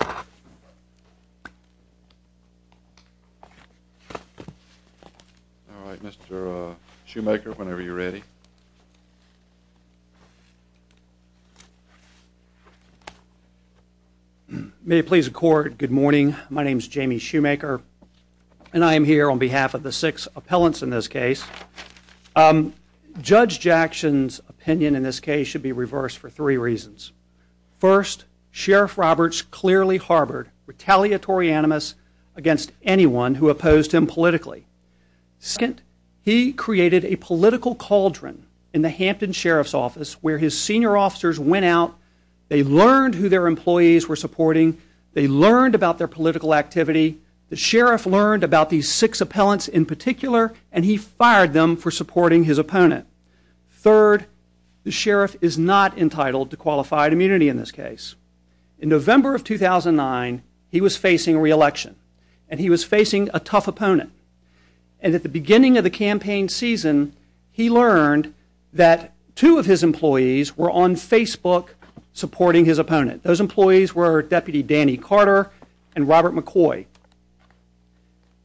All right, Mr. Shoemaker, whenever you're ready. May it please the court, good morning. My name is Jamie Shoemaker, and I am here on behalf of the six appellants in this case. Judge Jackson's opinion in this case should be reversed for three reasons. First, Sheriff Roberts clearly harbored retaliatory animus against anyone who opposed him politically. Second, he created a political cauldron in the Hampton Sheriff's Office where his senior officers went out, they learned who their employees were supporting, they learned about their political activity, the sheriff learned about these six appellants in particular, and he fired them for supporting his opponent. Third, the sheriff is not entitled to qualified immunity in this case. In November of 2009, he was facing re-election, and he was facing a tough opponent. And at the beginning of the campaign season, he learned that two of his employees were on Facebook supporting his opponent.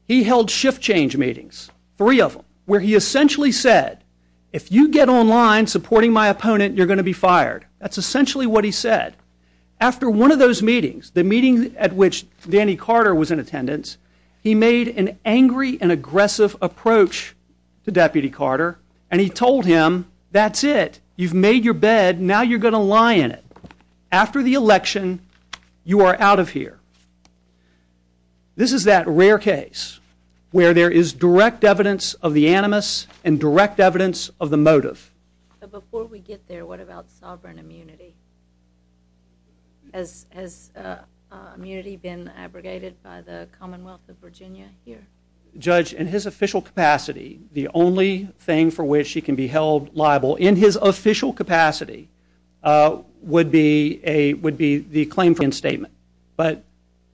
He held shift change meetings, three of them, where he essentially said, if you get online supporting my opponent, you're going to be fired. That's essentially what he said. After one of those meetings, the meeting at which Danny Carter was in attendance, he made an angry and aggressive approach to Deputy Carter, and he told him, that's it, you've made your bed, now you're going to lie in it. After the election, you are out of here. This is that rare case where there is direct evidence of the animus and direct evidence of the motive. Before we get there, what about sovereign immunity? Has immunity been abrogated by the Commonwealth of Virginia here? Judge, in his official capacity, the only thing for which he can be held liable, in his official capacity, would be the claim for reinstatement. But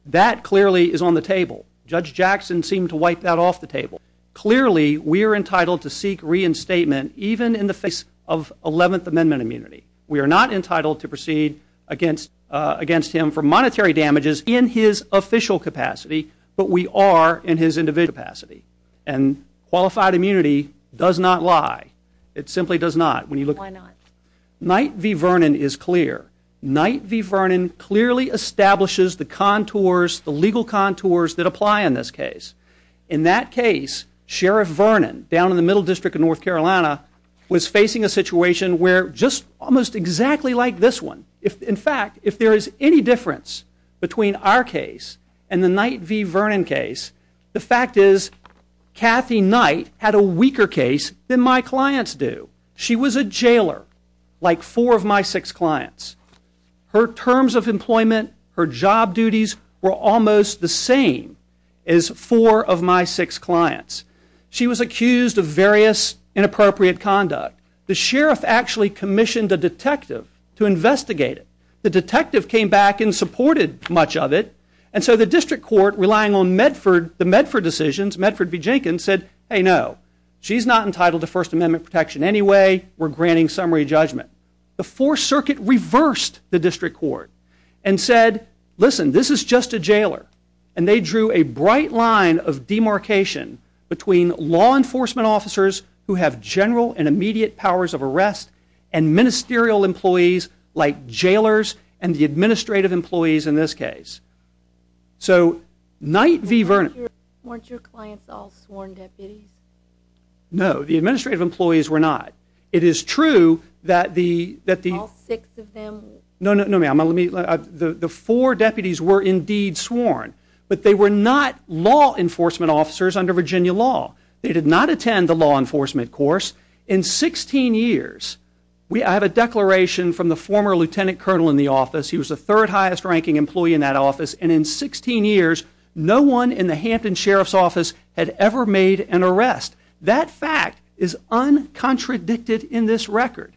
that clearly is on the table. Judge Jackson seemed to wipe that off the table. Clearly we are entitled to seek reinstatement even in the face of 11th Amendment immunity. We are not entitled to proceed against him for monetary damages in his official capacity, but we are in his individual capacity. And qualified immunity does not lie. It simply does not. Why not? Knight v. Vernon is clear. Knight v. Vernon clearly establishes the contours, the legal contours that apply in this case. In that case, Sheriff Vernon, down in the Middle District of North Carolina, was facing a situation where, just almost exactly like this one, in fact, if there is any difference between our case and the Knight v. Vernon case, the fact is, Kathy Knight had a weaker case than my clients do. She was a jailer, like four of my six clients. Her terms of employment, her job duties, were almost the same as four of my six clients. She was accused of various inappropriate conduct. The Sheriff actually commissioned a detective to investigate it. The detective came back and supported much of it, and so the District Court, relying on the Medford decisions, Medford v. Jenkins, said, hey, no. She's not entitled to First Amendment protection anyway. We're granting summary judgment. The Fourth Circuit reversed the District Court and said, listen, this is just a jailer. And they drew a bright line of demarcation between law enforcement officers who have general and immediate powers of arrest and ministerial employees like jailers and the administrative employees in this case. So, Knight v. Vernon, weren't your clients all sworn deputies? No, the administrative employees were not. It is true that the, that the, all six of them, no, no, no ma'am, let me, the four deputies were indeed sworn, but they were not law enforcement officers under Virginia law. They did not attend the law enforcement course. In 16 years, we, I have a declaration from the former lieutenant colonel in the office, he was the third highest ranking employee in that office, and in 16 years, no one in the Hampton Sheriff's Office had ever made an arrest. That fact is uncontradicted in this record.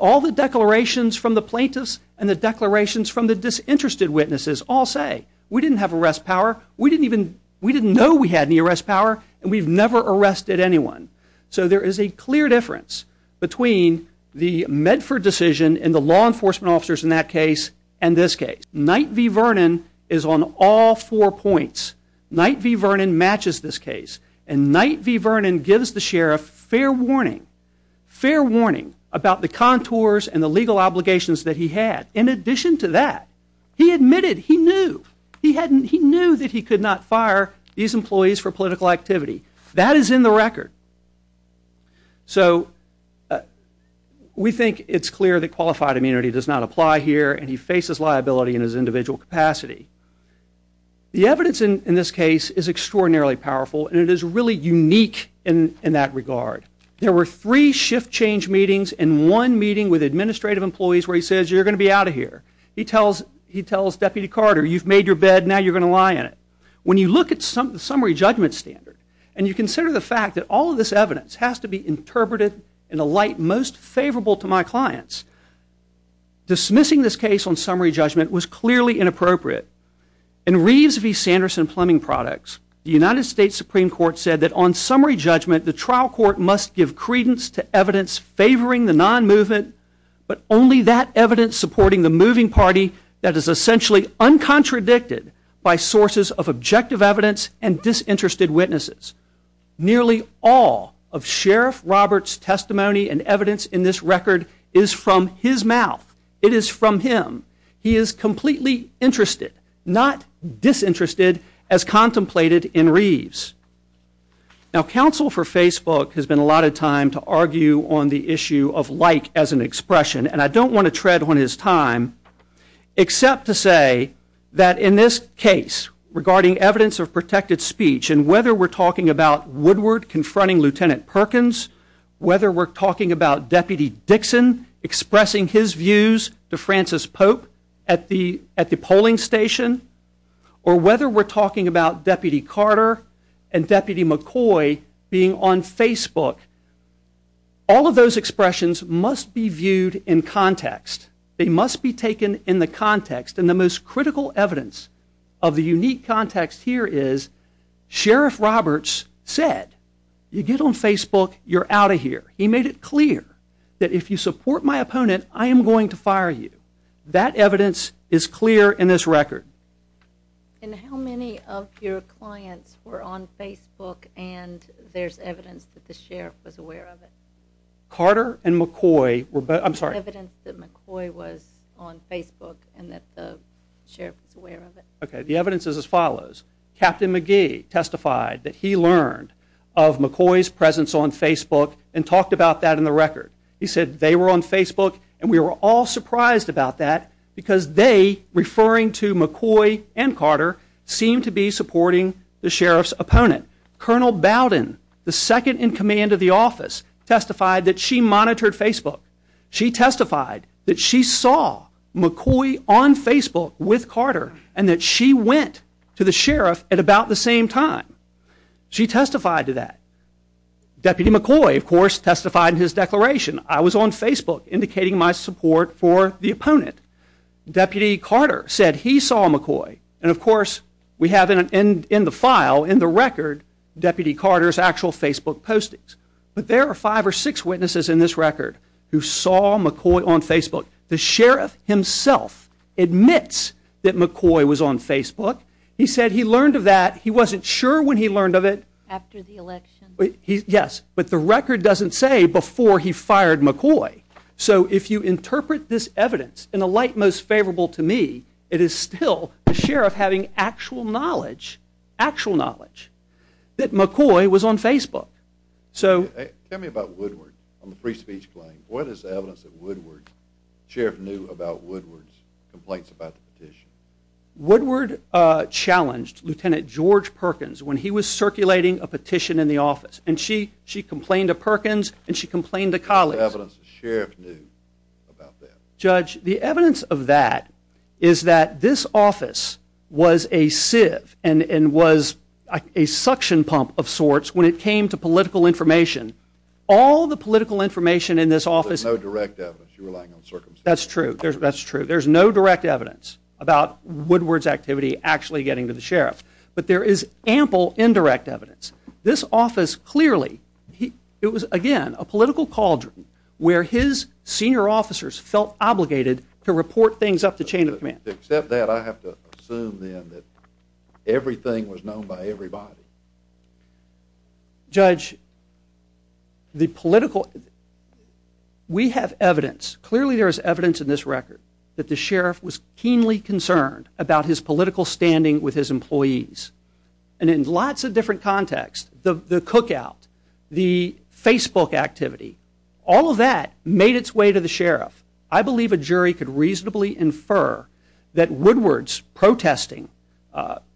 All the declarations from the plaintiffs and the declarations from the disinterested witnesses all say, we didn't have arrest power, we didn't even, we didn't know we had any arrest power, and we've never arrested anyone. So there is a clear difference between the Medford decision and the law enforcement officers in that case and this case. Knight v. Vernon is on all four points. Knight v. Vernon matches this case. And Knight v. Vernon gives the sheriff fair warning, fair warning about the contours and the legal obligations that he had. In addition to that, he admitted, he knew, he knew that he could not fire these employees for political activity. That is in the record. So, we think it's clear that qualified immunity does not apply here, and he faces liability in his individual capacity. The evidence in this case is extraordinarily powerful, and it is really unique in that regard. There were three shift change meetings and one meeting with administrative employees where he says, you're going to be out of here. He tells Deputy Carter, you've made your bed, now you're going to lie in it. When you look at the summary judgment standard, and you consider the fact that all of this evidence has to be interpreted in a light most favorable to my clients, dismissing this case on summary judgment was clearly inappropriate. In Reeves v. Sanderson Plumbing Products, the United States Supreme Court said that on summary judgment, the trial court must give credence to evidence favoring the non-movement, but only that evidence supporting the moving party that is essentially uncontradicted by sources of objective evidence and disinterested witnesses. Nearly all of Sheriff Roberts' testimony and evidence in this record is from his mouth. It is from him. He is completely interested, not disinterested, as contemplated in Reeves. Now counsel for Facebook has been allotted time to argue on the issue of like as an expression, and I don't want to tread on his time, except to say that in this case, regarding evidence of protected speech, and whether we're talking about Woodward confronting Lieutenant Perkins, whether we're talking about Deputy Dixon expressing his views to Francis Pope at the polling station, or whether we're talking about Deputy Carter and Deputy McCoy being on Facebook, all of those expressions must be viewed in context. They must be taken in the context, and the most critical evidence of the unique context here is Sheriff Roberts said, you get on Facebook, you're out of here. He made it clear that if you support my opponent, I am going to fire you. That evidence is clear in this record. And how many of your clients were on Facebook and there's evidence that the Sheriff was aware of it? Carter and McCoy, I'm sorry. There's evidence that McCoy was on Facebook and that the Sheriff was aware of it. Okay, the evidence is as follows. Captain McGee testified that he learned of McCoy's presence on Facebook and talked about that in the record. He said they were on Facebook and we were all surprised about that because they, referring to McCoy and Carter, seemed to be supporting the Sheriff's opponent. Colonel Bowden, the second in command of the office, testified that she monitored Facebook. She testified that she saw McCoy on Facebook with Carter and that she went to the Sheriff at about the same time. She testified to that. Deputy McCoy, of course, testified in his declaration, I was on Facebook indicating my support for the opponent. Deputy Carter said he saw McCoy and, of course, we have in the file, in the record, Deputy Carter's actual Facebook postings. But there are five or six witnesses in this record who saw McCoy on Facebook. The Sheriff himself admits that McCoy was on Facebook. He said he learned of that. He wasn't sure when he learned of it. After the election. Yes, but the record doesn't say before he fired McCoy. So if you interpret this evidence in the light most favorable to me, it is still the Sheriff having actual knowledge, actual knowledge, that McCoy was on Facebook. So tell me about Woodward on the free speech claim. What is the evidence that Woodward, the Sheriff knew about Woodward's complaints about the petition? Woodward challenged Lieutenant George Perkins when he was circulating a petition in the office and she complained to Perkins and she complained to Collins. What is the evidence the Sheriff knew about that? Judge, the evidence of that is that this office was a sieve and was a suction pump of sorts when it came to political information. All the political information in this office. There's no direct evidence. You're relying on circumstances. That's true. That's true. There's no direct evidence about Woodward's activity actually getting to the Sheriff. But there is ample indirect evidence. This office clearly, it was again a political cauldron where his senior officers felt obligated to report things up to chain of command. Except that I have to assume then that everything was known by everybody. Judge, the political, we have evidence. Clearly there is evidence in this record that the Sheriff was keenly concerned about his political standing with his employees. And in lots of different contexts, the cookout, the Facebook activity, all of that made its way to the Sheriff. I believe a jury could reasonably infer that Woodward's protesting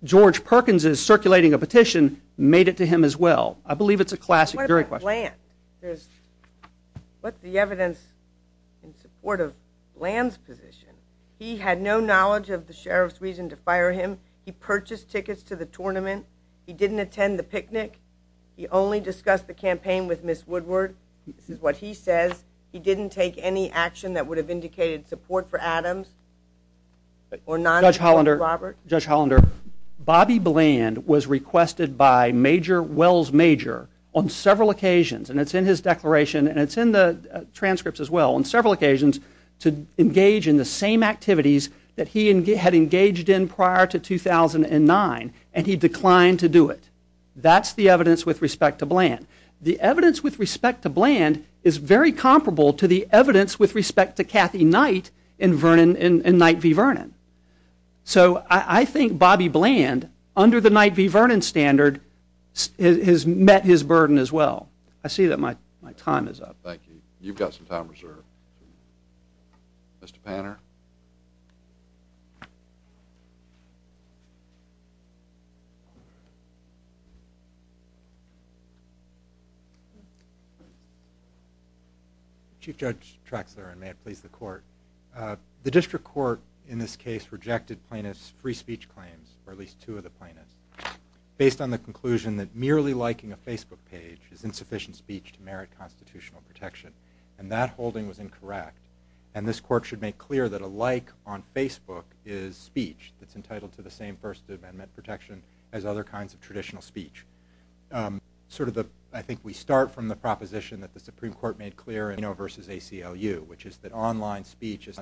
George Perkins' circulating a petition made it to him as well. I believe it's a classic jury question. What about Land? What's the evidence in support of Land's position? He had no knowledge of the Sheriff's reason to fire him. He purchased tickets to the tournament. He didn't attend the picnic. He only discussed the campaign with Ms. Woodward. This is what he says. He didn't take any action that would have indicated support for Adams or non-Judge Robert. Judge Hollander, Bobby Bland was requested by Major Wells Major on several occasions, and it's in his declaration, and it's in the transcripts as well, on several occasions to engage in the same activities that he had engaged in prior to 2009, and he declined to do it. That's the evidence with respect to Bland. The evidence with respect to Bland is very comparable to the evidence with respect to Kathy Knight in Knight v. Vernon. So I think Bobby Bland, under the Knight v. Vernon standard, has met his burden as well. I see that my time is up. Thank you. You've got some time reserved. Mr. Panner? Chief Judge Traxler, and may it please the Court. The District Court in this case rejected plaintiff's free speech claims for at least two of the plaintiffs based on the conclusion that merely liking a Facebook page is insufficient speech to merit constitutional protection, and that holding was incorrect. And this Court should make clear that a like on Facebook is speech that's entitled to the same First Amendment protection as other kinds of traditional speech. Sort of the, I think we start from the proposition that the Supreme Court made clear in Aino v. ACLU, which is that online speech is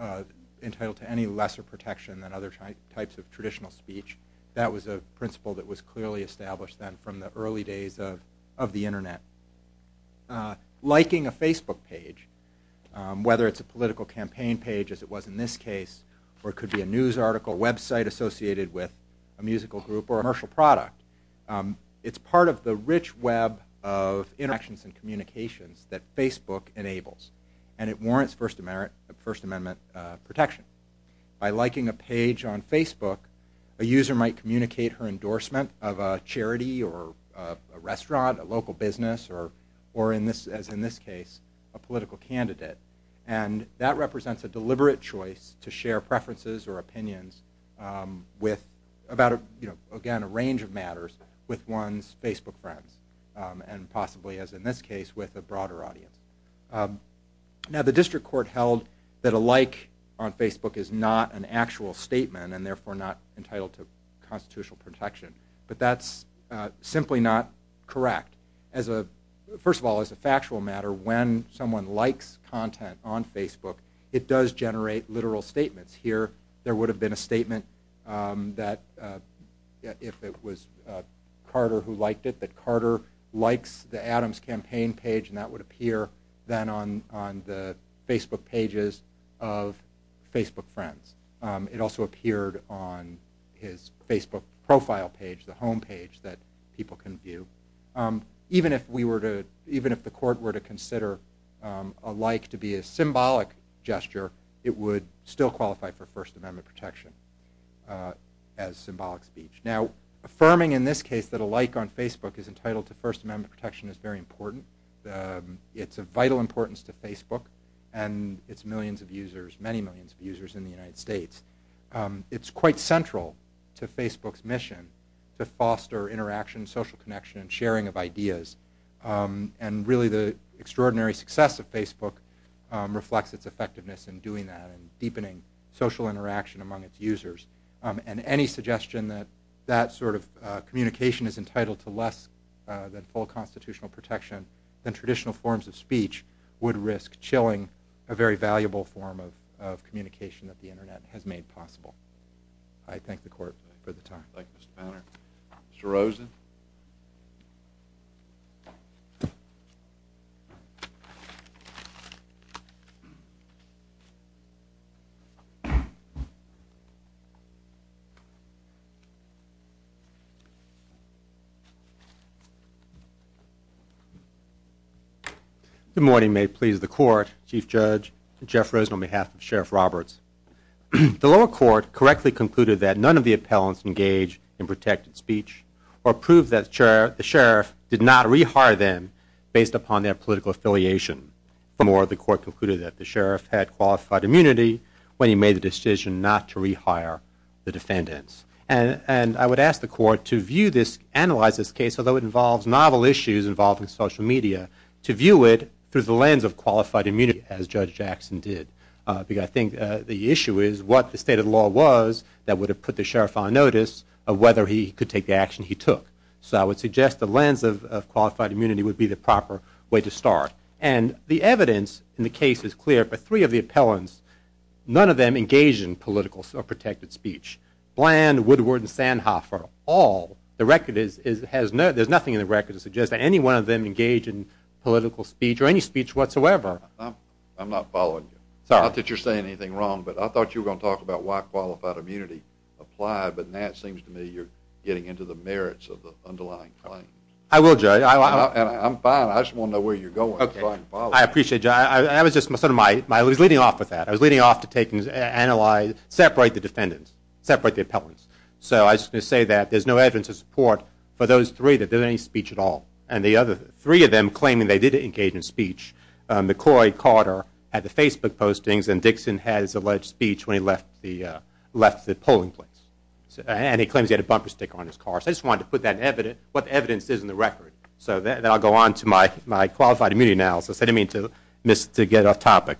not entitled to any lesser protection than other types of traditional speech. That was a principle that was clearly established then from the early days of the Internet. Liking a Facebook page, whether it's a political campaign page as it was in this case, or it could be a news article, a website associated with a musical group, or a commercial product, it's part of the rich web of interactions and communications that Facebook enables. And it warrants First Amendment protection. By liking a page on Facebook, a user might communicate her endorsement of a charity or a restaurant, a local business, or as in this case, a political candidate. And that represents a deliberate choice to share preferences or opinions with, again, a range of matters with one's Facebook friends, and possibly as in this case, with a broader audience. Now, the district court held that a like on Facebook is not an actual statement, and therefore not entitled to constitutional protection. But that's simply not correct. As a, first of all, as a factual matter, when someone likes content on Facebook, it does generate literal statements. Here, there would have been a statement that, if it was Carter who liked it, that Carter likes the Adams campaign page, and that would appear then on the Facebook pages of Facebook friends. It also appeared on his Facebook profile page, the home page that people can view. Even if we were to, even if the court were to consider a like to be a symbolic gesture, it would still qualify for First Amendment protection as symbolic speech. Now, affirming in this case that a like on Facebook is entitled to First Amendment protection is very important. It's of vital importance to Facebook and its millions of users, many millions of users in the United States. It's quite central to Facebook's mission to foster interaction, social connection, and sharing of ideas. And really, the extraordinary success of Facebook reflects its effectiveness in doing that, and deepening social interaction among its users. And any suggestion that that sort of communication is entitled to less than full constitutional protection than traditional forms of speech would risk chilling a very valuable form of communication that the internet has made possible. I thank the court for the time. Thank you, Mr. Banner. Mr. Rosen? Good morning. May it please the court, Chief Judge, Jeff Rosen on behalf of Sheriff Roberts. The lower court correctly concluded that none of the appellants engaged in protected speech or proved that the sheriff did not rehire them based upon their political affiliation. Furthermore, the court concluded that the sheriff had qualified immunity when he made the decision not to rehire the defendants. And I would ask the court to view this, analyze this case, although it involves novel issues involving social media, to view it through the lens of qualified immunity, as Judge Jackson did. Because I think the issue is what the state of the law was that would have put the sheriff on notice of whether he could take the action he took. So I would suggest the lens of qualified immunity would be the proper way to start. And the evidence in the case is clear, but three of the appellants, none of them engaged in political or protected speech. Bland, Woodward, and Sandhoffer, all. The record is, there's nothing in the record to suggest that any one of them engaged in political speech or any speech whatsoever. I'm not following you. Sorry. Not that you're saying anything wrong, but I thought you were going to talk about why qualified immunity applied, but now it seems to me you're getting into the merits of the underlying claims. I will, Judge. I'm fine. I just want to know where you're going. I'm fine to follow. I appreciate you. I was just sort of leading off with that. I was leading off to separate the defendants, separate the appellants. So I was going to say that there's no evidence of support for those three that did any speech at all. And the other three of them claiming they did engage in speech, McCoy, Carter, had the Facebook postings, and Dixon had his alleged speech when he left the polling place. And he claims he had a bumper sticker on his car. So I just wanted to put what the evidence is in the record. So then I'll go on to my qualified immunity analysis. I didn't mean to get off topic.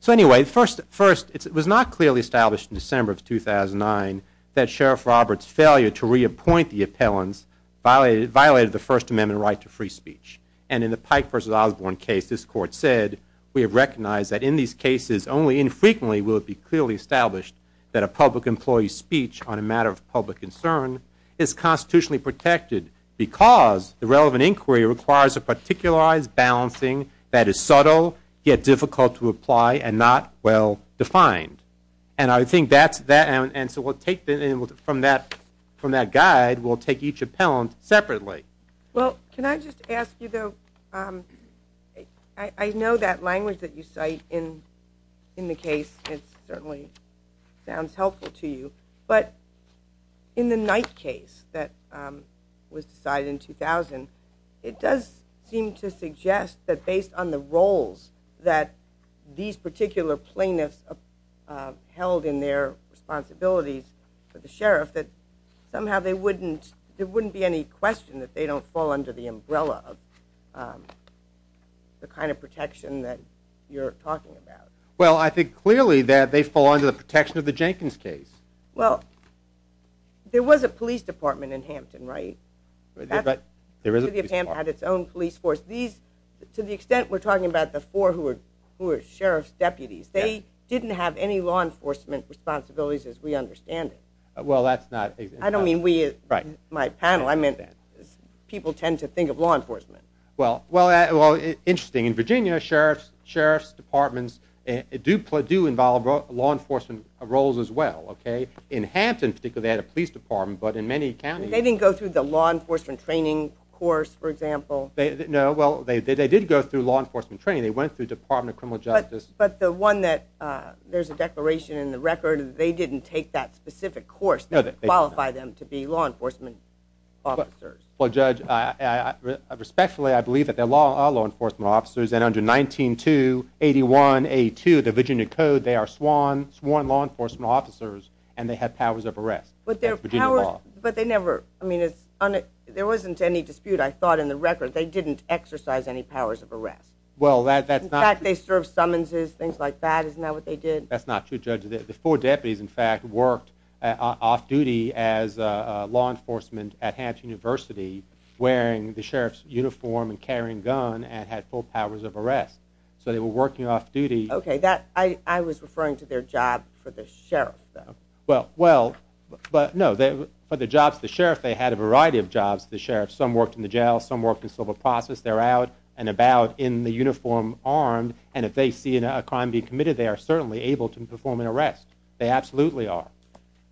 So anyway, first, it was not clearly established in December of 2009 that Sheriff Roberts' failure to reappoint the appellants violated the First Amendment right to free speech. And in the Pike v. Osborne case, this court said, we have recognized that in these cases, only infrequently will it be clearly established that a public employee's speech on a matter of public concern is constitutionally protected because the relevant inquiry requires a particularized balancing that is subtle, yet difficult to apply, and not well-defined. And I think that's – and so we'll take – from that guide, we'll take each appellant separately. Well, can I just ask you, though, I know that language that you cite in the case, it certainly sounds helpful to you. But in the Knight case that was decided in 2000, it does seem to suggest that based on the roles that these particular plaintiffs held in their responsibilities for the sheriff, that somehow they wouldn't – there wouldn't be any question that they don't fall under the umbrella of the kind of protection that you're talking about. Well, I think clearly that they fall under the protection of the Jenkins case. Well, there was a police department in Hampton, right? There is a police department. The city of Hampton had its own police force. These – to the extent we're talking about the four who were sheriff's deputies, they didn't have any law enforcement responsibilities as we understand it. Well, that's not – I don't mean we. Right. My panel, I meant that. People tend to think of law enforcement. Well, interesting. In Virginia, sheriff's departments do involve law enforcement roles as well, okay? In Hampton, particularly, they had a police department, but in many counties – They didn't go through the law enforcement training course, for example? No, well, they did go through law enforcement training. They went through the Department of Criminal Justice. But the one that – there's a declaration in the record that they didn't take that specific course that qualified them to be law enforcement officers. Well, Judge, respectfully, I believe that they are law enforcement officers, and under 19-2-81-82, the Virginia Code, they are sworn law enforcement officers, and they have powers of arrest. But their powers – That's Virginia law. But they never – I mean, it's – there wasn't any dispute, I thought, in the record. They didn't exercise any powers of arrest. Well, that's not – In fact, they served summonses, things like that. Isn't that what they did? That's not true, Judge. The four deputies, in fact, worked off-duty as law enforcement at Hampton University, wearing the sheriff's uniform and carrying a gun, and had full powers of arrest. So they were working off-duty – Okay, that – I was referring to their job for the sheriff, though. Well, no, for the jobs of the sheriff, they had a variety of jobs, the sheriff. Some worked in the jail, some worked in civil process. They're out and about in the uniform, armed, and if they see a crime being committed, they are certainly able to perform an arrest. They absolutely are.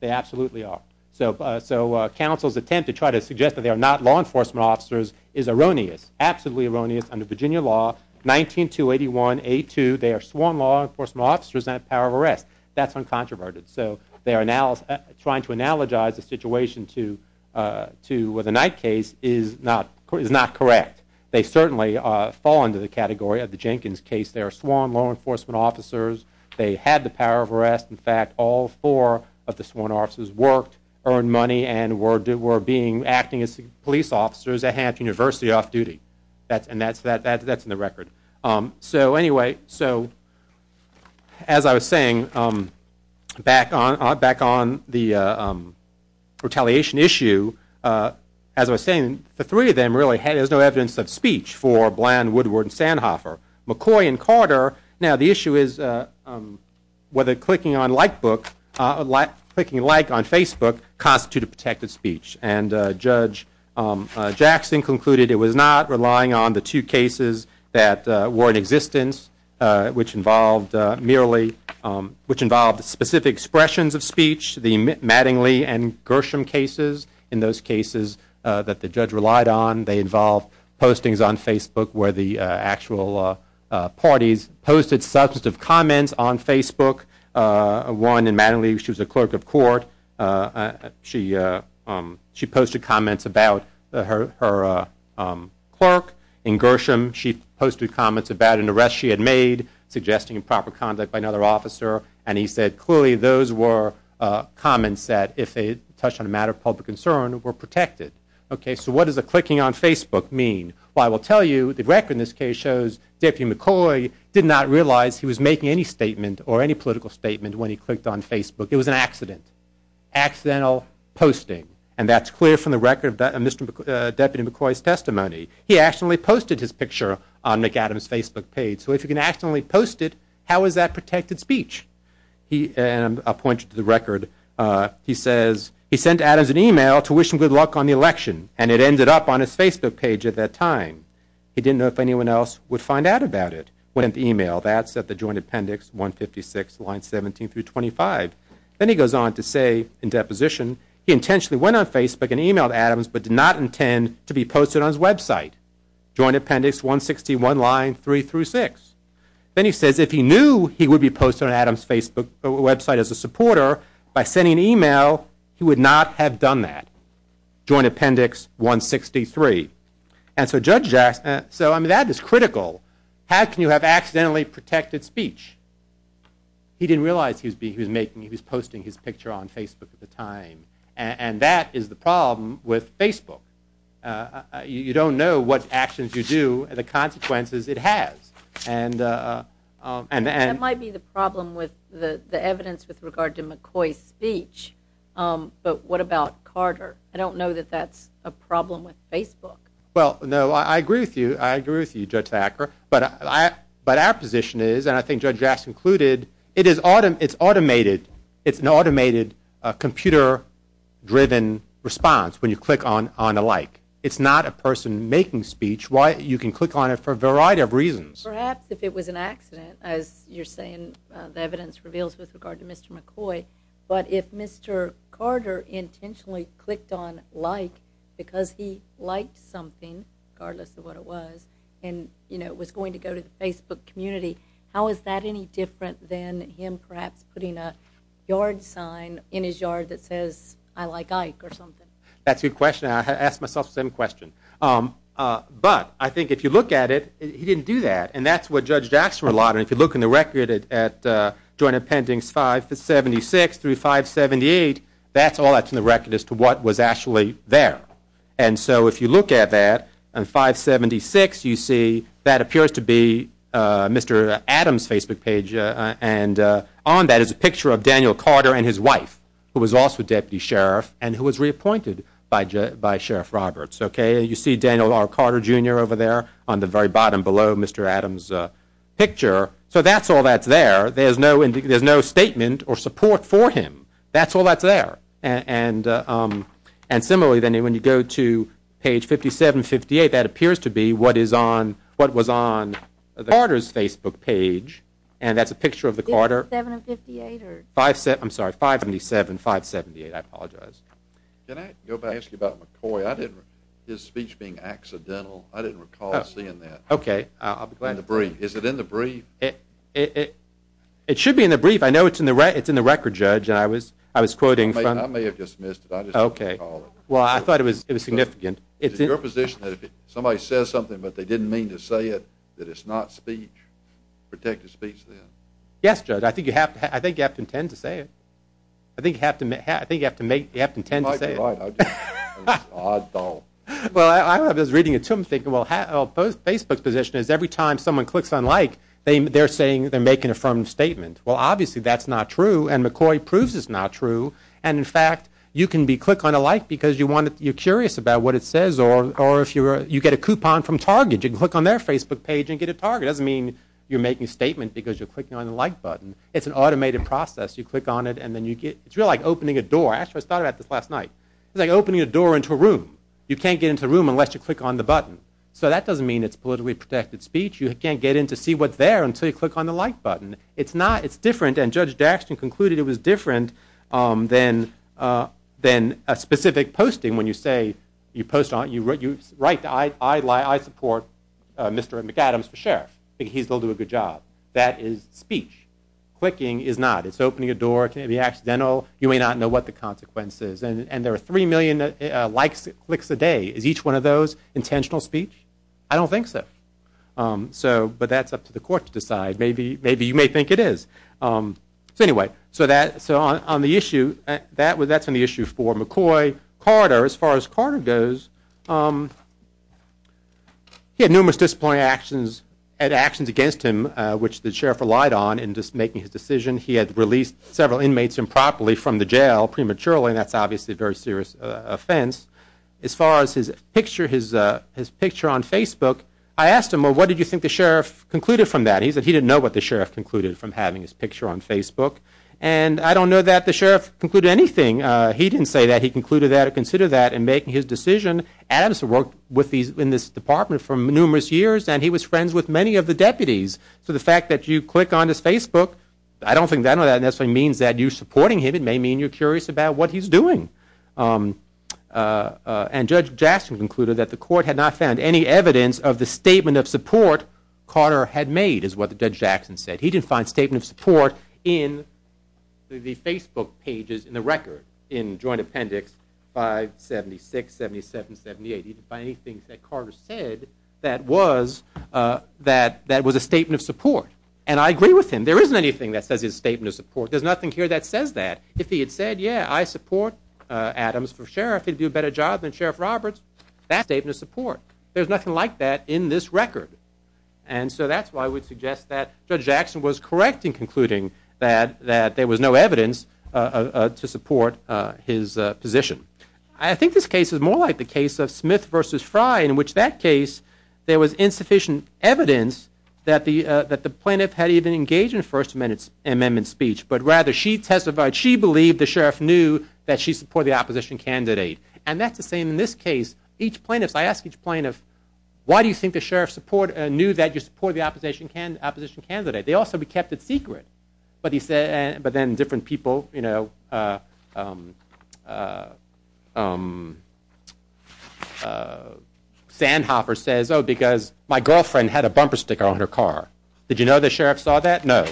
They absolutely are. So counsel's attempt to try to suggest that they are not law enforcement officers is erroneous, absolutely erroneous under Virginia law, 19281A2. They are sworn law enforcement officers and have power of arrest. That's uncontroverted. So they are trying to analogize the situation to the Knight case is not correct. They certainly fall under the category of the Jenkins case. They are sworn law enforcement officers. They had the power of arrest. In fact, all four of the sworn officers worked, earned money, and were acting as police officers at Hanford University off-duty. And that's in the record. So anyway, so as I was saying, back on the retaliation issue, as I was saying, the three of them really had no evidence of speech for Bland, Woodward, and Sandhoffer. McCoy and Carter, now the issue is whether clicking on Like on Facebook constituted protected speech. And Judge Jackson concluded it was not, relying on the two cases that were in existence, which involved specific expressions of speech, the Mattingly and Gershom cases. In those cases that the judge relied on, they involved postings on Facebook where the actual parties posted substantive comments on Facebook. One in Mattingly, she was a clerk of court. She posted comments about her clerk. In Gershom, she posted comments about an arrest she had made, suggesting improper conduct by another officer. And he said clearly those were comments that, if they touched on a matter of public concern, were protected. Okay, so what does a clicking on Facebook mean? Well, I will tell you, the record in this case shows Deputy McCoy did not realize he was making any statement or any political statement when he clicked on Facebook. It was an accident, accidental posting. And that's clear from the record of Deputy McCoy's testimony. He accidentally posted his picture on Nick Adams' Facebook page. So if he can accidentally post it, how is that protected speech? And I'll point you to the record. He says, he sent Adams an email to wish him good luck on the election, and it ended up on his Facebook page at that time. He didn't know if anyone else would find out about it. That's at the Joint Appendix 156, lines 17 through 25. Then he goes on to say in deposition, he intentionally went on Facebook and emailed Adams, but did not intend to be posted on his website. Joint Appendix 161, line 3 through 6. Then he says if he knew he would be posted on Adams' Facebook website as a supporter, by sending an email, he would not have done that. Joint Appendix 163. And so Judge Jackson, so that is critical. How can you have accidentally protected speech? He didn't realize he was posting his picture on Facebook at the time. And that is the problem with Facebook. You don't know what actions you do and the consequences it has. That might be the problem with the evidence with regard to McCoy's speech, but what about Carter? I don't know that that's a problem with Facebook. Well, no, I agree with you. I agree with you, Judge Thacker. But our position is, and I think Judge Jackson included, it's an automated computer-driven response when you click on a like. It's not a person making speech. You can click on it for a variety of reasons. Perhaps if it was an accident, as you're saying the evidence reveals with regard to Mr. McCoy. But if Mr. Carter intentionally clicked on like because he liked something, regardless of what it was, and it was going to go to the Facebook community, how is that any different than him perhaps putting a yard sign in his yard that says I like Ike or something? That's a good question, and I ask myself the same question. But I think if you look at it, he didn't do that. And that's what Judge Jackson relied on. If you look in the record at Joint Appendix 576 through 578, that's all that's in the record as to what was actually there. And so if you look at that on 576, you see that appears to be Mr. Adams' Facebook page, and on that is a picture of Daniel Carter and his wife, who was also a deputy sheriff and who was reappointed by Sheriff Roberts. You see Daniel R. Carter, Jr. over there on the very bottom below Mr. Adams' picture. So that's all that's there. There's no statement or support for him. That's all that's there. And similarly, when you go to page 5758, that appears to be what was on Carter's Facebook page, and that's a picture of the Carter. I'm sorry, 577, 578, I apologize. Can I go back and ask you about McCoy? His speech being accidental, I didn't recall seeing that. Okay, I'll be glad to. In the brief. Is it in the brief? It should be in the brief. I know it's in the record, Judge, and I was quoting from— I may have dismissed it. I just didn't recall it. Well, I thought it was significant. Is it your position that if somebody says something but they didn't mean to say it, that it's not speech, protected speech, then? Yes, Judge, I think you have to intend to say it. I think you have to intend to say it. You might be right. I don't. Well, I was reading it too. I'm thinking, well, Facebook's position is every time someone clicks on Like, they're saying they're making a firm statement. Well, obviously that's not true, and McCoy proves it's not true. And, in fact, you can click on a Like because you're curious about what it says, or you get a coupon from Target. You can click on their Facebook page and get a Target. It doesn't mean you're making a statement because you're clicking on the Like button. It's an automated process. You click on it, and then you get—it's really like opening a door. Actually, I was thinking about this last night. It's like opening a door into a room. You can't get into a room unless you click on the button. So that doesn't mean it's politically protected speech. You can't get in to see what's there until you click on the Like button. It's not. It's different, and Judge Daxton concluded it was different than a specific posting when you say you post on—you write, I support Mr. McAdams for sheriff. He's going to do a good job. That is speech. Clicking is not. It's opening a door. It can be accidental. You may not know what the consequence is. And there are 3 million Likes, clicks a day. Is each one of those intentional speech? I don't think so. But that's up to the court to decide. Maybe you may think it is. So anyway, so on the issue, that's on the issue for McCoy. Carter, as far as Carter goes, he had numerous disappointing actions and actions against him, which the sheriff relied on in making his decision. He had released several inmates improperly from the jail prematurely, and that's obviously a very serious offense. As far as his picture on Facebook, I asked him, well, what did you think the sheriff concluded from that? And he said he didn't know what the sheriff concluded from having his picture on Facebook. And I don't know that the sheriff concluded anything. He didn't say that he concluded that or considered that in making his decision. Adams worked in this department for numerous years, and he was friends with many of the deputies. So the fact that you click on his Facebook, I don't think that necessarily means that you're supporting him. It may mean you're curious about what he's doing. And Judge Jackson concluded that the court had not found any evidence of the statement of support Carter had made, is what Judge Jackson said. He didn't find a statement of support in the Facebook pages, in the record, in joint appendix 576, 77, 78. He didn't find anything that Carter said that was a statement of support. And I agree with him. There isn't anything that says it's a statement of support. There's nothing here that says that. If he had said, yeah, I support Adams for sheriff, he'd do a better job than Sheriff Roberts. That's a statement of support. There's nothing like that in this record. And so that's why I would suggest that Judge Jackson was correct in concluding that there was no evidence to support his position. I think this case is more like the case of Smith v. Frye, in which that case there was insufficient evidence that the plaintiff had even engaged in a First Amendment speech, but rather she testified she believed the sheriff knew that she supported the opposition candidate. And that's the same in this case. Each plaintiff, I ask each plaintiff, why do you think the sheriff knew that you supported the opposition candidate? They also kept it secret. But then different people, you know, Sandhoffer says, oh, because my girlfriend had a bumper sticker on her car. Did you know the sheriff saw that? No.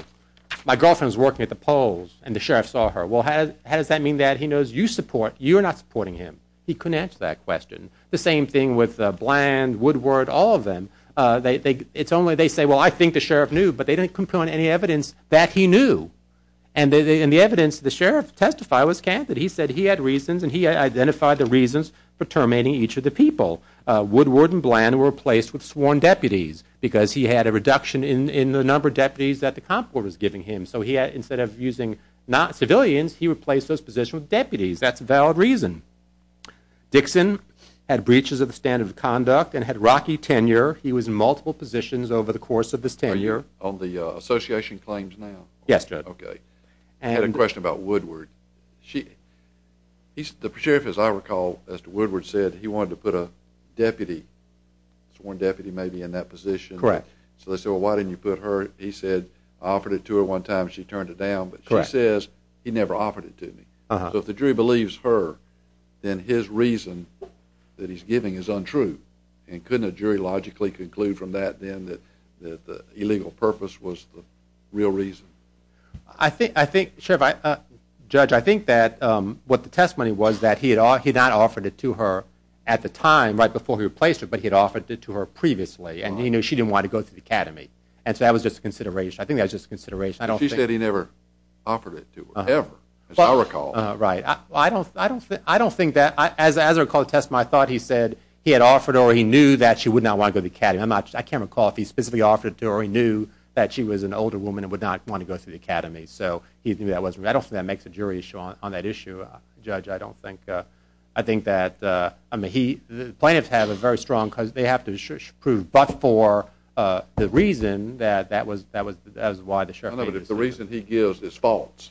My girlfriend was working at the polls and the sheriff saw her. Well, how does that mean that he knows you support? He couldn't answer that question. The same thing with Bland, Woodward, all of them. It's only they say, well, I think the sheriff knew, but they didn't compel any evidence that he knew. And the evidence the sheriff testified was candid. He said he had reasons, and he identified the reasons for terminating each of the people. Woodward and Bland were replaced with sworn deputies because he had a reduction in the number of deputies that the Comptroller was giving him. So instead of using civilians, he replaced those positions with deputies. That's a valid reason. Dixon had breaches of the standard of conduct and had rocky tenure. He was in multiple positions over the course of his tenure. Are you on the association claims now? Yes, Judge. Okay. I had a question about Woodward. The sheriff, as I recall, as to Woodward, said he wanted to put a deputy, sworn deputy maybe, in that position. Correct. So they said, well, why didn't you put her? He said, I offered it to her one time. She turned it down. Correct. But she says he never offered it to me. So if the jury believes her, then his reason that he's giving is untrue. And couldn't a jury logically conclude from that, then, that the illegal purpose was the real reason? I think, Sheriff, Judge, I think that what the testimony was, that he had not offered it to her at the time, right before he replaced her, but he had offered it to her previously, and he knew she didn't want to go through the academy. And so that was just a consideration. I think that was just a consideration. She said he never offered it to her, ever, as I recall. Right. I don't think that, as I recall the testimony, I thought he said he had offered her, or he knew that she would not want to go to the academy. I can't recall if he specifically offered it to her, or he knew that she was an older woman and would not want to go through the academy. So I don't think that makes a jury issue on that issue, Judge. I don't think, I think that, I mean, the plaintiffs have a very strong, because they have to prove, but for the reason that that was why the Sheriff made the decision. No, no, but if the reason he gives is false,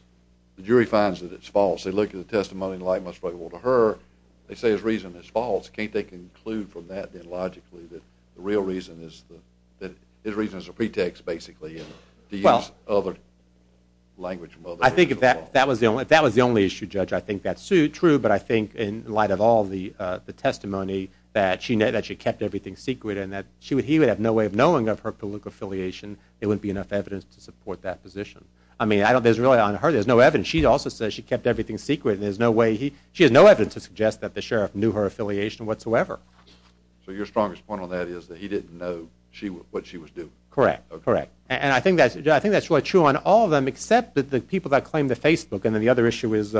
the jury finds that it's false. They look at the testimony and, like most people, to her, they say his reason is false. Can't they conclude from that, then, logically, that the real reason is that his reason is a pretext, basically, to use other language from other people? I think if that was the only issue, Judge, I think that's true, but I think, in light of all the testimony, that she kept everything secret and that he would have no way of knowing of her political affiliation, there wouldn't be enough evidence to support that position. I mean, I don't, there's really, on her, there's no evidence. She also says she kept everything secret. There's no way he, she has no evidence to suggest that the Sheriff knew her affiliation whatsoever. So your strongest point on that is that he didn't know what she was doing? Correct, correct. And I think that's, Judge, I think that's really true on all of them, except that the people that claim the Facebook, and then the other issue is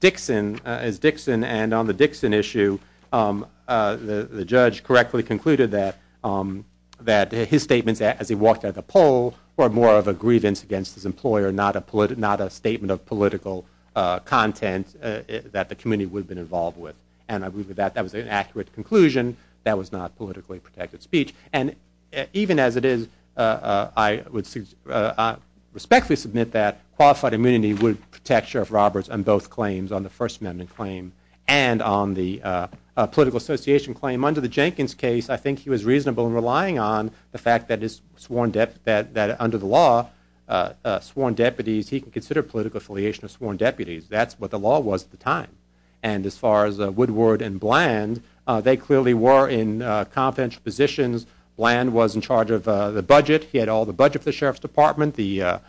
Dixon, is Dixon, and on the Dixon issue, the Judge correctly concluded that his statements as he walked out of the poll were more of a grievance against his employer, not a statement of political content that the community would have been involved with. And I believe that that was an accurate conclusion. That was not politically protected speech. And even as it is, I would respectfully submit that qualified immunity would protect Sheriff Roberts on both claims, on the First Amendment claim and on the political association claim. Under the Jenkins case, I think he was reasonable in relying on the fact that under the law, sworn deputies, he could consider political affiliation of sworn deputies. That's what the law was at the time. And as far as Woodward and Bland, they clearly were in confidential positions. Bland was in charge of the budget. He had all the budget for the Sheriff's Department, the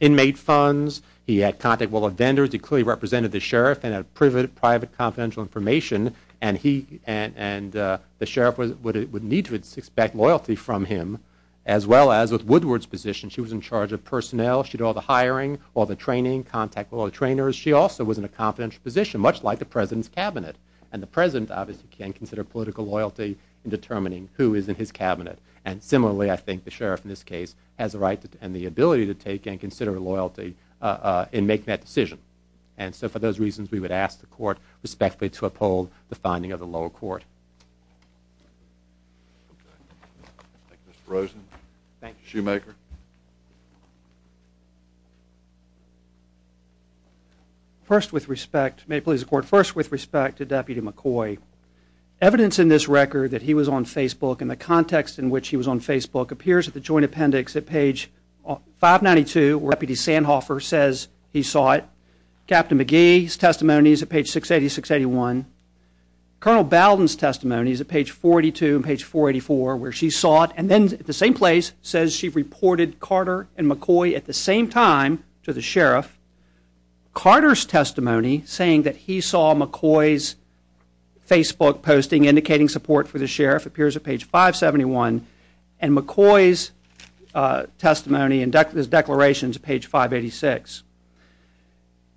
inmate funds. He had contact with all the vendors. He clearly represented the Sheriff and had private confidential information. And the Sheriff would need to expect loyalty from him, as well as with Woodward's position. She was in charge of personnel. She had all the hiring, all the training, contact with all the trainers. She also was in a confidential position, much like the President's Cabinet. And the President obviously can consider political loyalty in determining who is in his Cabinet. And similarly, I think the Sheriff in this case has the right and the ability to take and consider loyalty in making that decision. And so for those reasons, we would ask the Court respectfully to uphold the finding of the lower court. Thank you, Mr. Rosen. Thank you. Shoemaker. First with respect, may it please the Court, first with respect to Deputy McCoy. Evidence in this record that he was on Facebook and the context in which he was on Facebook appears at the joint appendix at page 592 where Deputy Sandhofer says he saw it. Captain McGee's testimony is at page 680, 681. Colonel Bowden's testimony is at page 42 and page 484 where she saw it. And then at the same place says she reported Carter and McCoy at the same time to the Sheriff. Carter's testimony, saying that he saw McCoy's Facebook posting indicating support for the Sheriff, appears at page 571. And McCoy's testimony and his declaration is at page 586.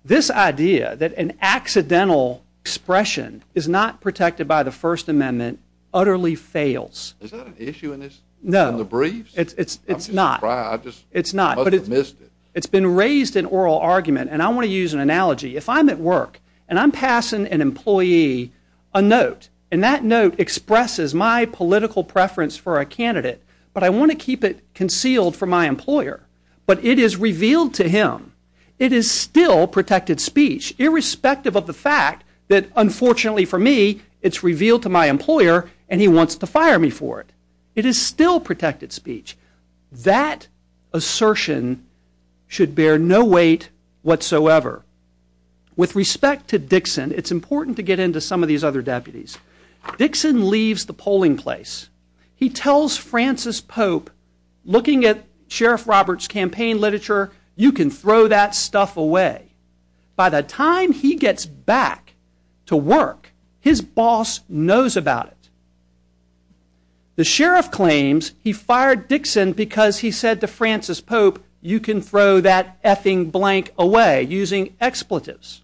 This idea that an accidental expression is not protected by the First Amendment utterly fails. Is that an issue in this? No. In the briefs? It's not. I'm just surprised. It's not, but it's been raised in oral argument and I want to use an analogy. If I'm at work and I'm passing an employee a note and that note expresses my political preference for a candidate, but I want to keep it concealed from my employer, but it is revealed to him, it is still protected speech irrespective of the fact that unfortunately for me it's revealed to my employer and he wants to fire me for it. It is still protected speech. That assertion should bear no weight whatsoever. With respect to Dixon, it's important to get into some of these other deputies. Dixon leaves the polling place. He tells Francis Pope, looking at Sheriff Roberts' campaign literature, you can throw that stuff away. By the time he gets back to work, his boss knows about it. The Sheriff claims he fired Dixon because he said to Francis Pope, you can throw that effing blank away using expletives.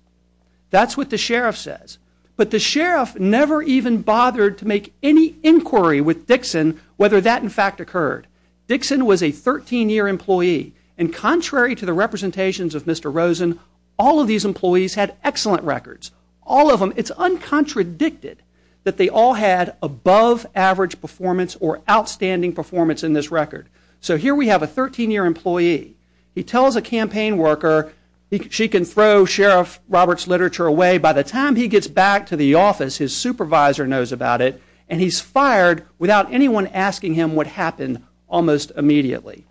That's what the Sheriff says. But the Sheriff never even bothered to make any inquiry with Dixon whether that in fact occurred. Dixon was a 13-year employee and contrary to the representations of Mr. Rosen, all of these employees had excellent records. All of them. It's uncontradicted that they all had above average performance or outstanding performance in this record. So here we have a 13-year employee. He tells a campaign worker, she can throw Sheriff Roberts' literature away. By the time he gets back to the office, his supervisor knows about it and he's fired without anyone asking him what happened almost immediately.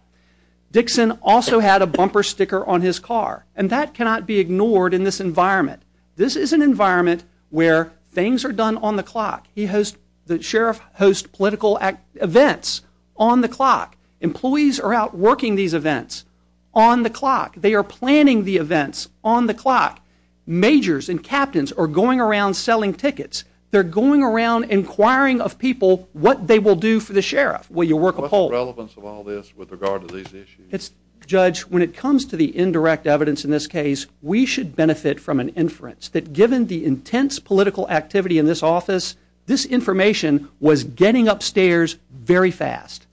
Dixon also had a bumper sticker on his car and that cannot be ignored in this environment. This is an environment where things are done on the clock. The Sheriff hosts political events on the clock. Employees are out working these events on the clock. They are planning the events on the clock. Majors and captains are going around selling tickets. They're going around inquiring of people what they will do for the Sheriff. Will you work a poll? What's the relevance of all this with regard to these issues? Judge, when it comes to the indirect evidence in this case, we should benefit from an inference that given the intense political activity in this office, this information was getting upstairs very fast.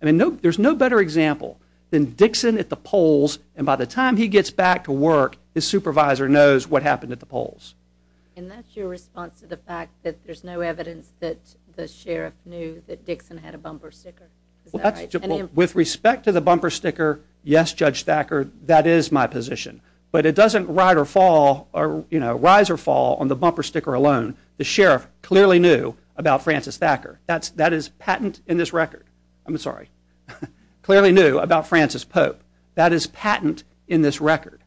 There's no better example than Dixon at the polls and by the time he gets back to work, his supervisor knows what happened at the polls. And that's your response to the fact that there's no evidence that the Sheriff knew that Dixon had a bumper sticker? With respect to the bumper sticker, yes, Judge Thacker, that is my position. But it doesn't rise or fall on the bumper sticker alone. The Sheriff clearly knew about Francis Thacker. That is patent in this record. I'm sorry. Clearly knew about Francis Pope. That is patent in this record.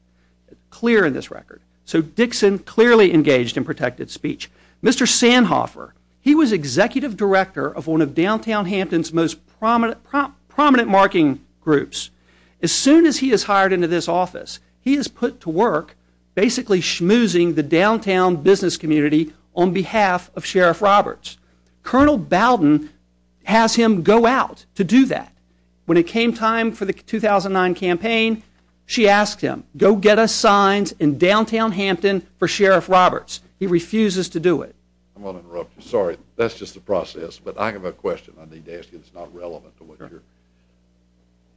Clear in this record. So Dixon clearly engaged in protected speech. Mr. Sandhofer, he was executive director of one of downtown Hampton's most prominent marketing groups. As soon as he is hired into this office, he is put to work basically schmoozing the downtown business community on behalf of Sheriff Roberts. Colonel Bowden has him go out to do that. When it came time for the 2009 campaign, she asked him, go get us signs in downtown Hampton for Sheriff Roberts. He refuses to do it. I'm going to interrupt you. Sorry. That's just the process. But I have a question I need to ask you that's not relevant to what you're...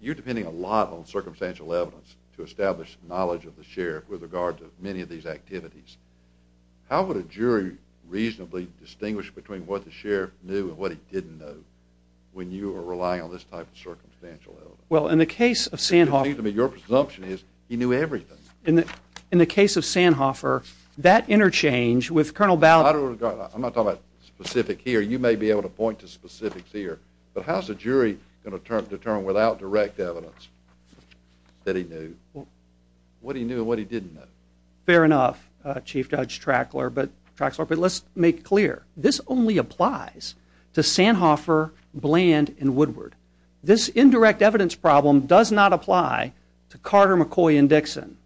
You're depending a lot on circumstantial evidence to establish knowledge of the Sheriff with regards to many of these activities. How would a jury reasonably distinguish between what the Sheriff knew and what he didn't know when you are relying on this type of circumstantial evidence? Well, in the case of Sandhofer... Your presumption is he knew everything. In the case of Sandhofer, that interchange with Colonel Bowden... I'm not talking about specific here. You may be able to point to specifics here. But how is a jury going to determine without direct evidence that he knew what he knew and what he didn't know? Fair enough, Chief Judge Trackler. But let's make clear. This only applies to Sandhofer, Bland, and Woodward. This indirect evidence problem does not apply to Carter, McCoy, and Dixon.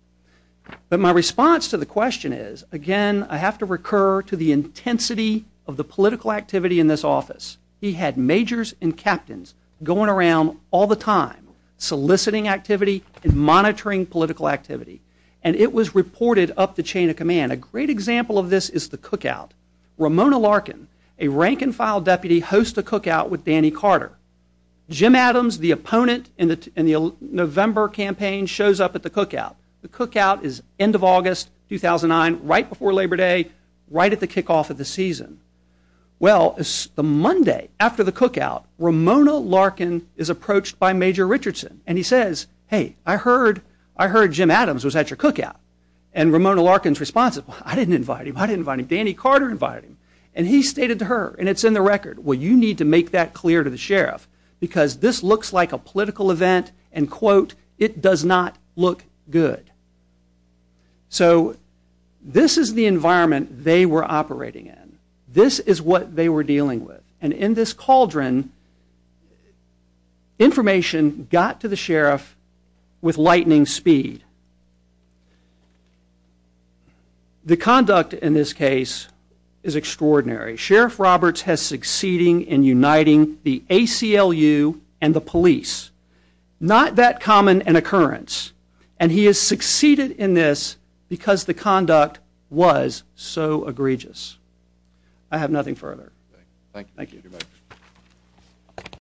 But my response to the question is, again, I have to recur to the intensity of the political activity in this office. He had majors and captains going around all the time soliciting activity and monitoring political activity. And it was reported up the chain of command. A great example of this is the cookout. Ramona Larkin, a rank-and-file deputy, hosts a cookout with Danny Carter. Jim Adams, the opponent in the November campaign, shows up at the cookout. The cookout is end of August, 2009, right before Labor Day, right at the kickoff of the season. Well, the Monday after the cookout, Ramona Larkin is approached by Major Richardson. And he says, hey, I heard Jim Adams was at your cookout. And Ramona Larkin's response is, I didn't invite him, I didn't invite him. Danny Carter invited him. And he stated to her, and it's in the record, well, you need to make that clear to the sheriff because this looks like a political event and, quote, it does not look good. So this is the environment they were operating in. This is what they were dealing with. And in this cauldron, information got to the sheriff with lightning speed. The conduct in this case is extraordinary. Sheriff Roberts has succeeded in uniting the ACLU and the police. Not that common an occurrence. And he has succeeded in this because the conduct was so egregious. I have nothing further. Thank you.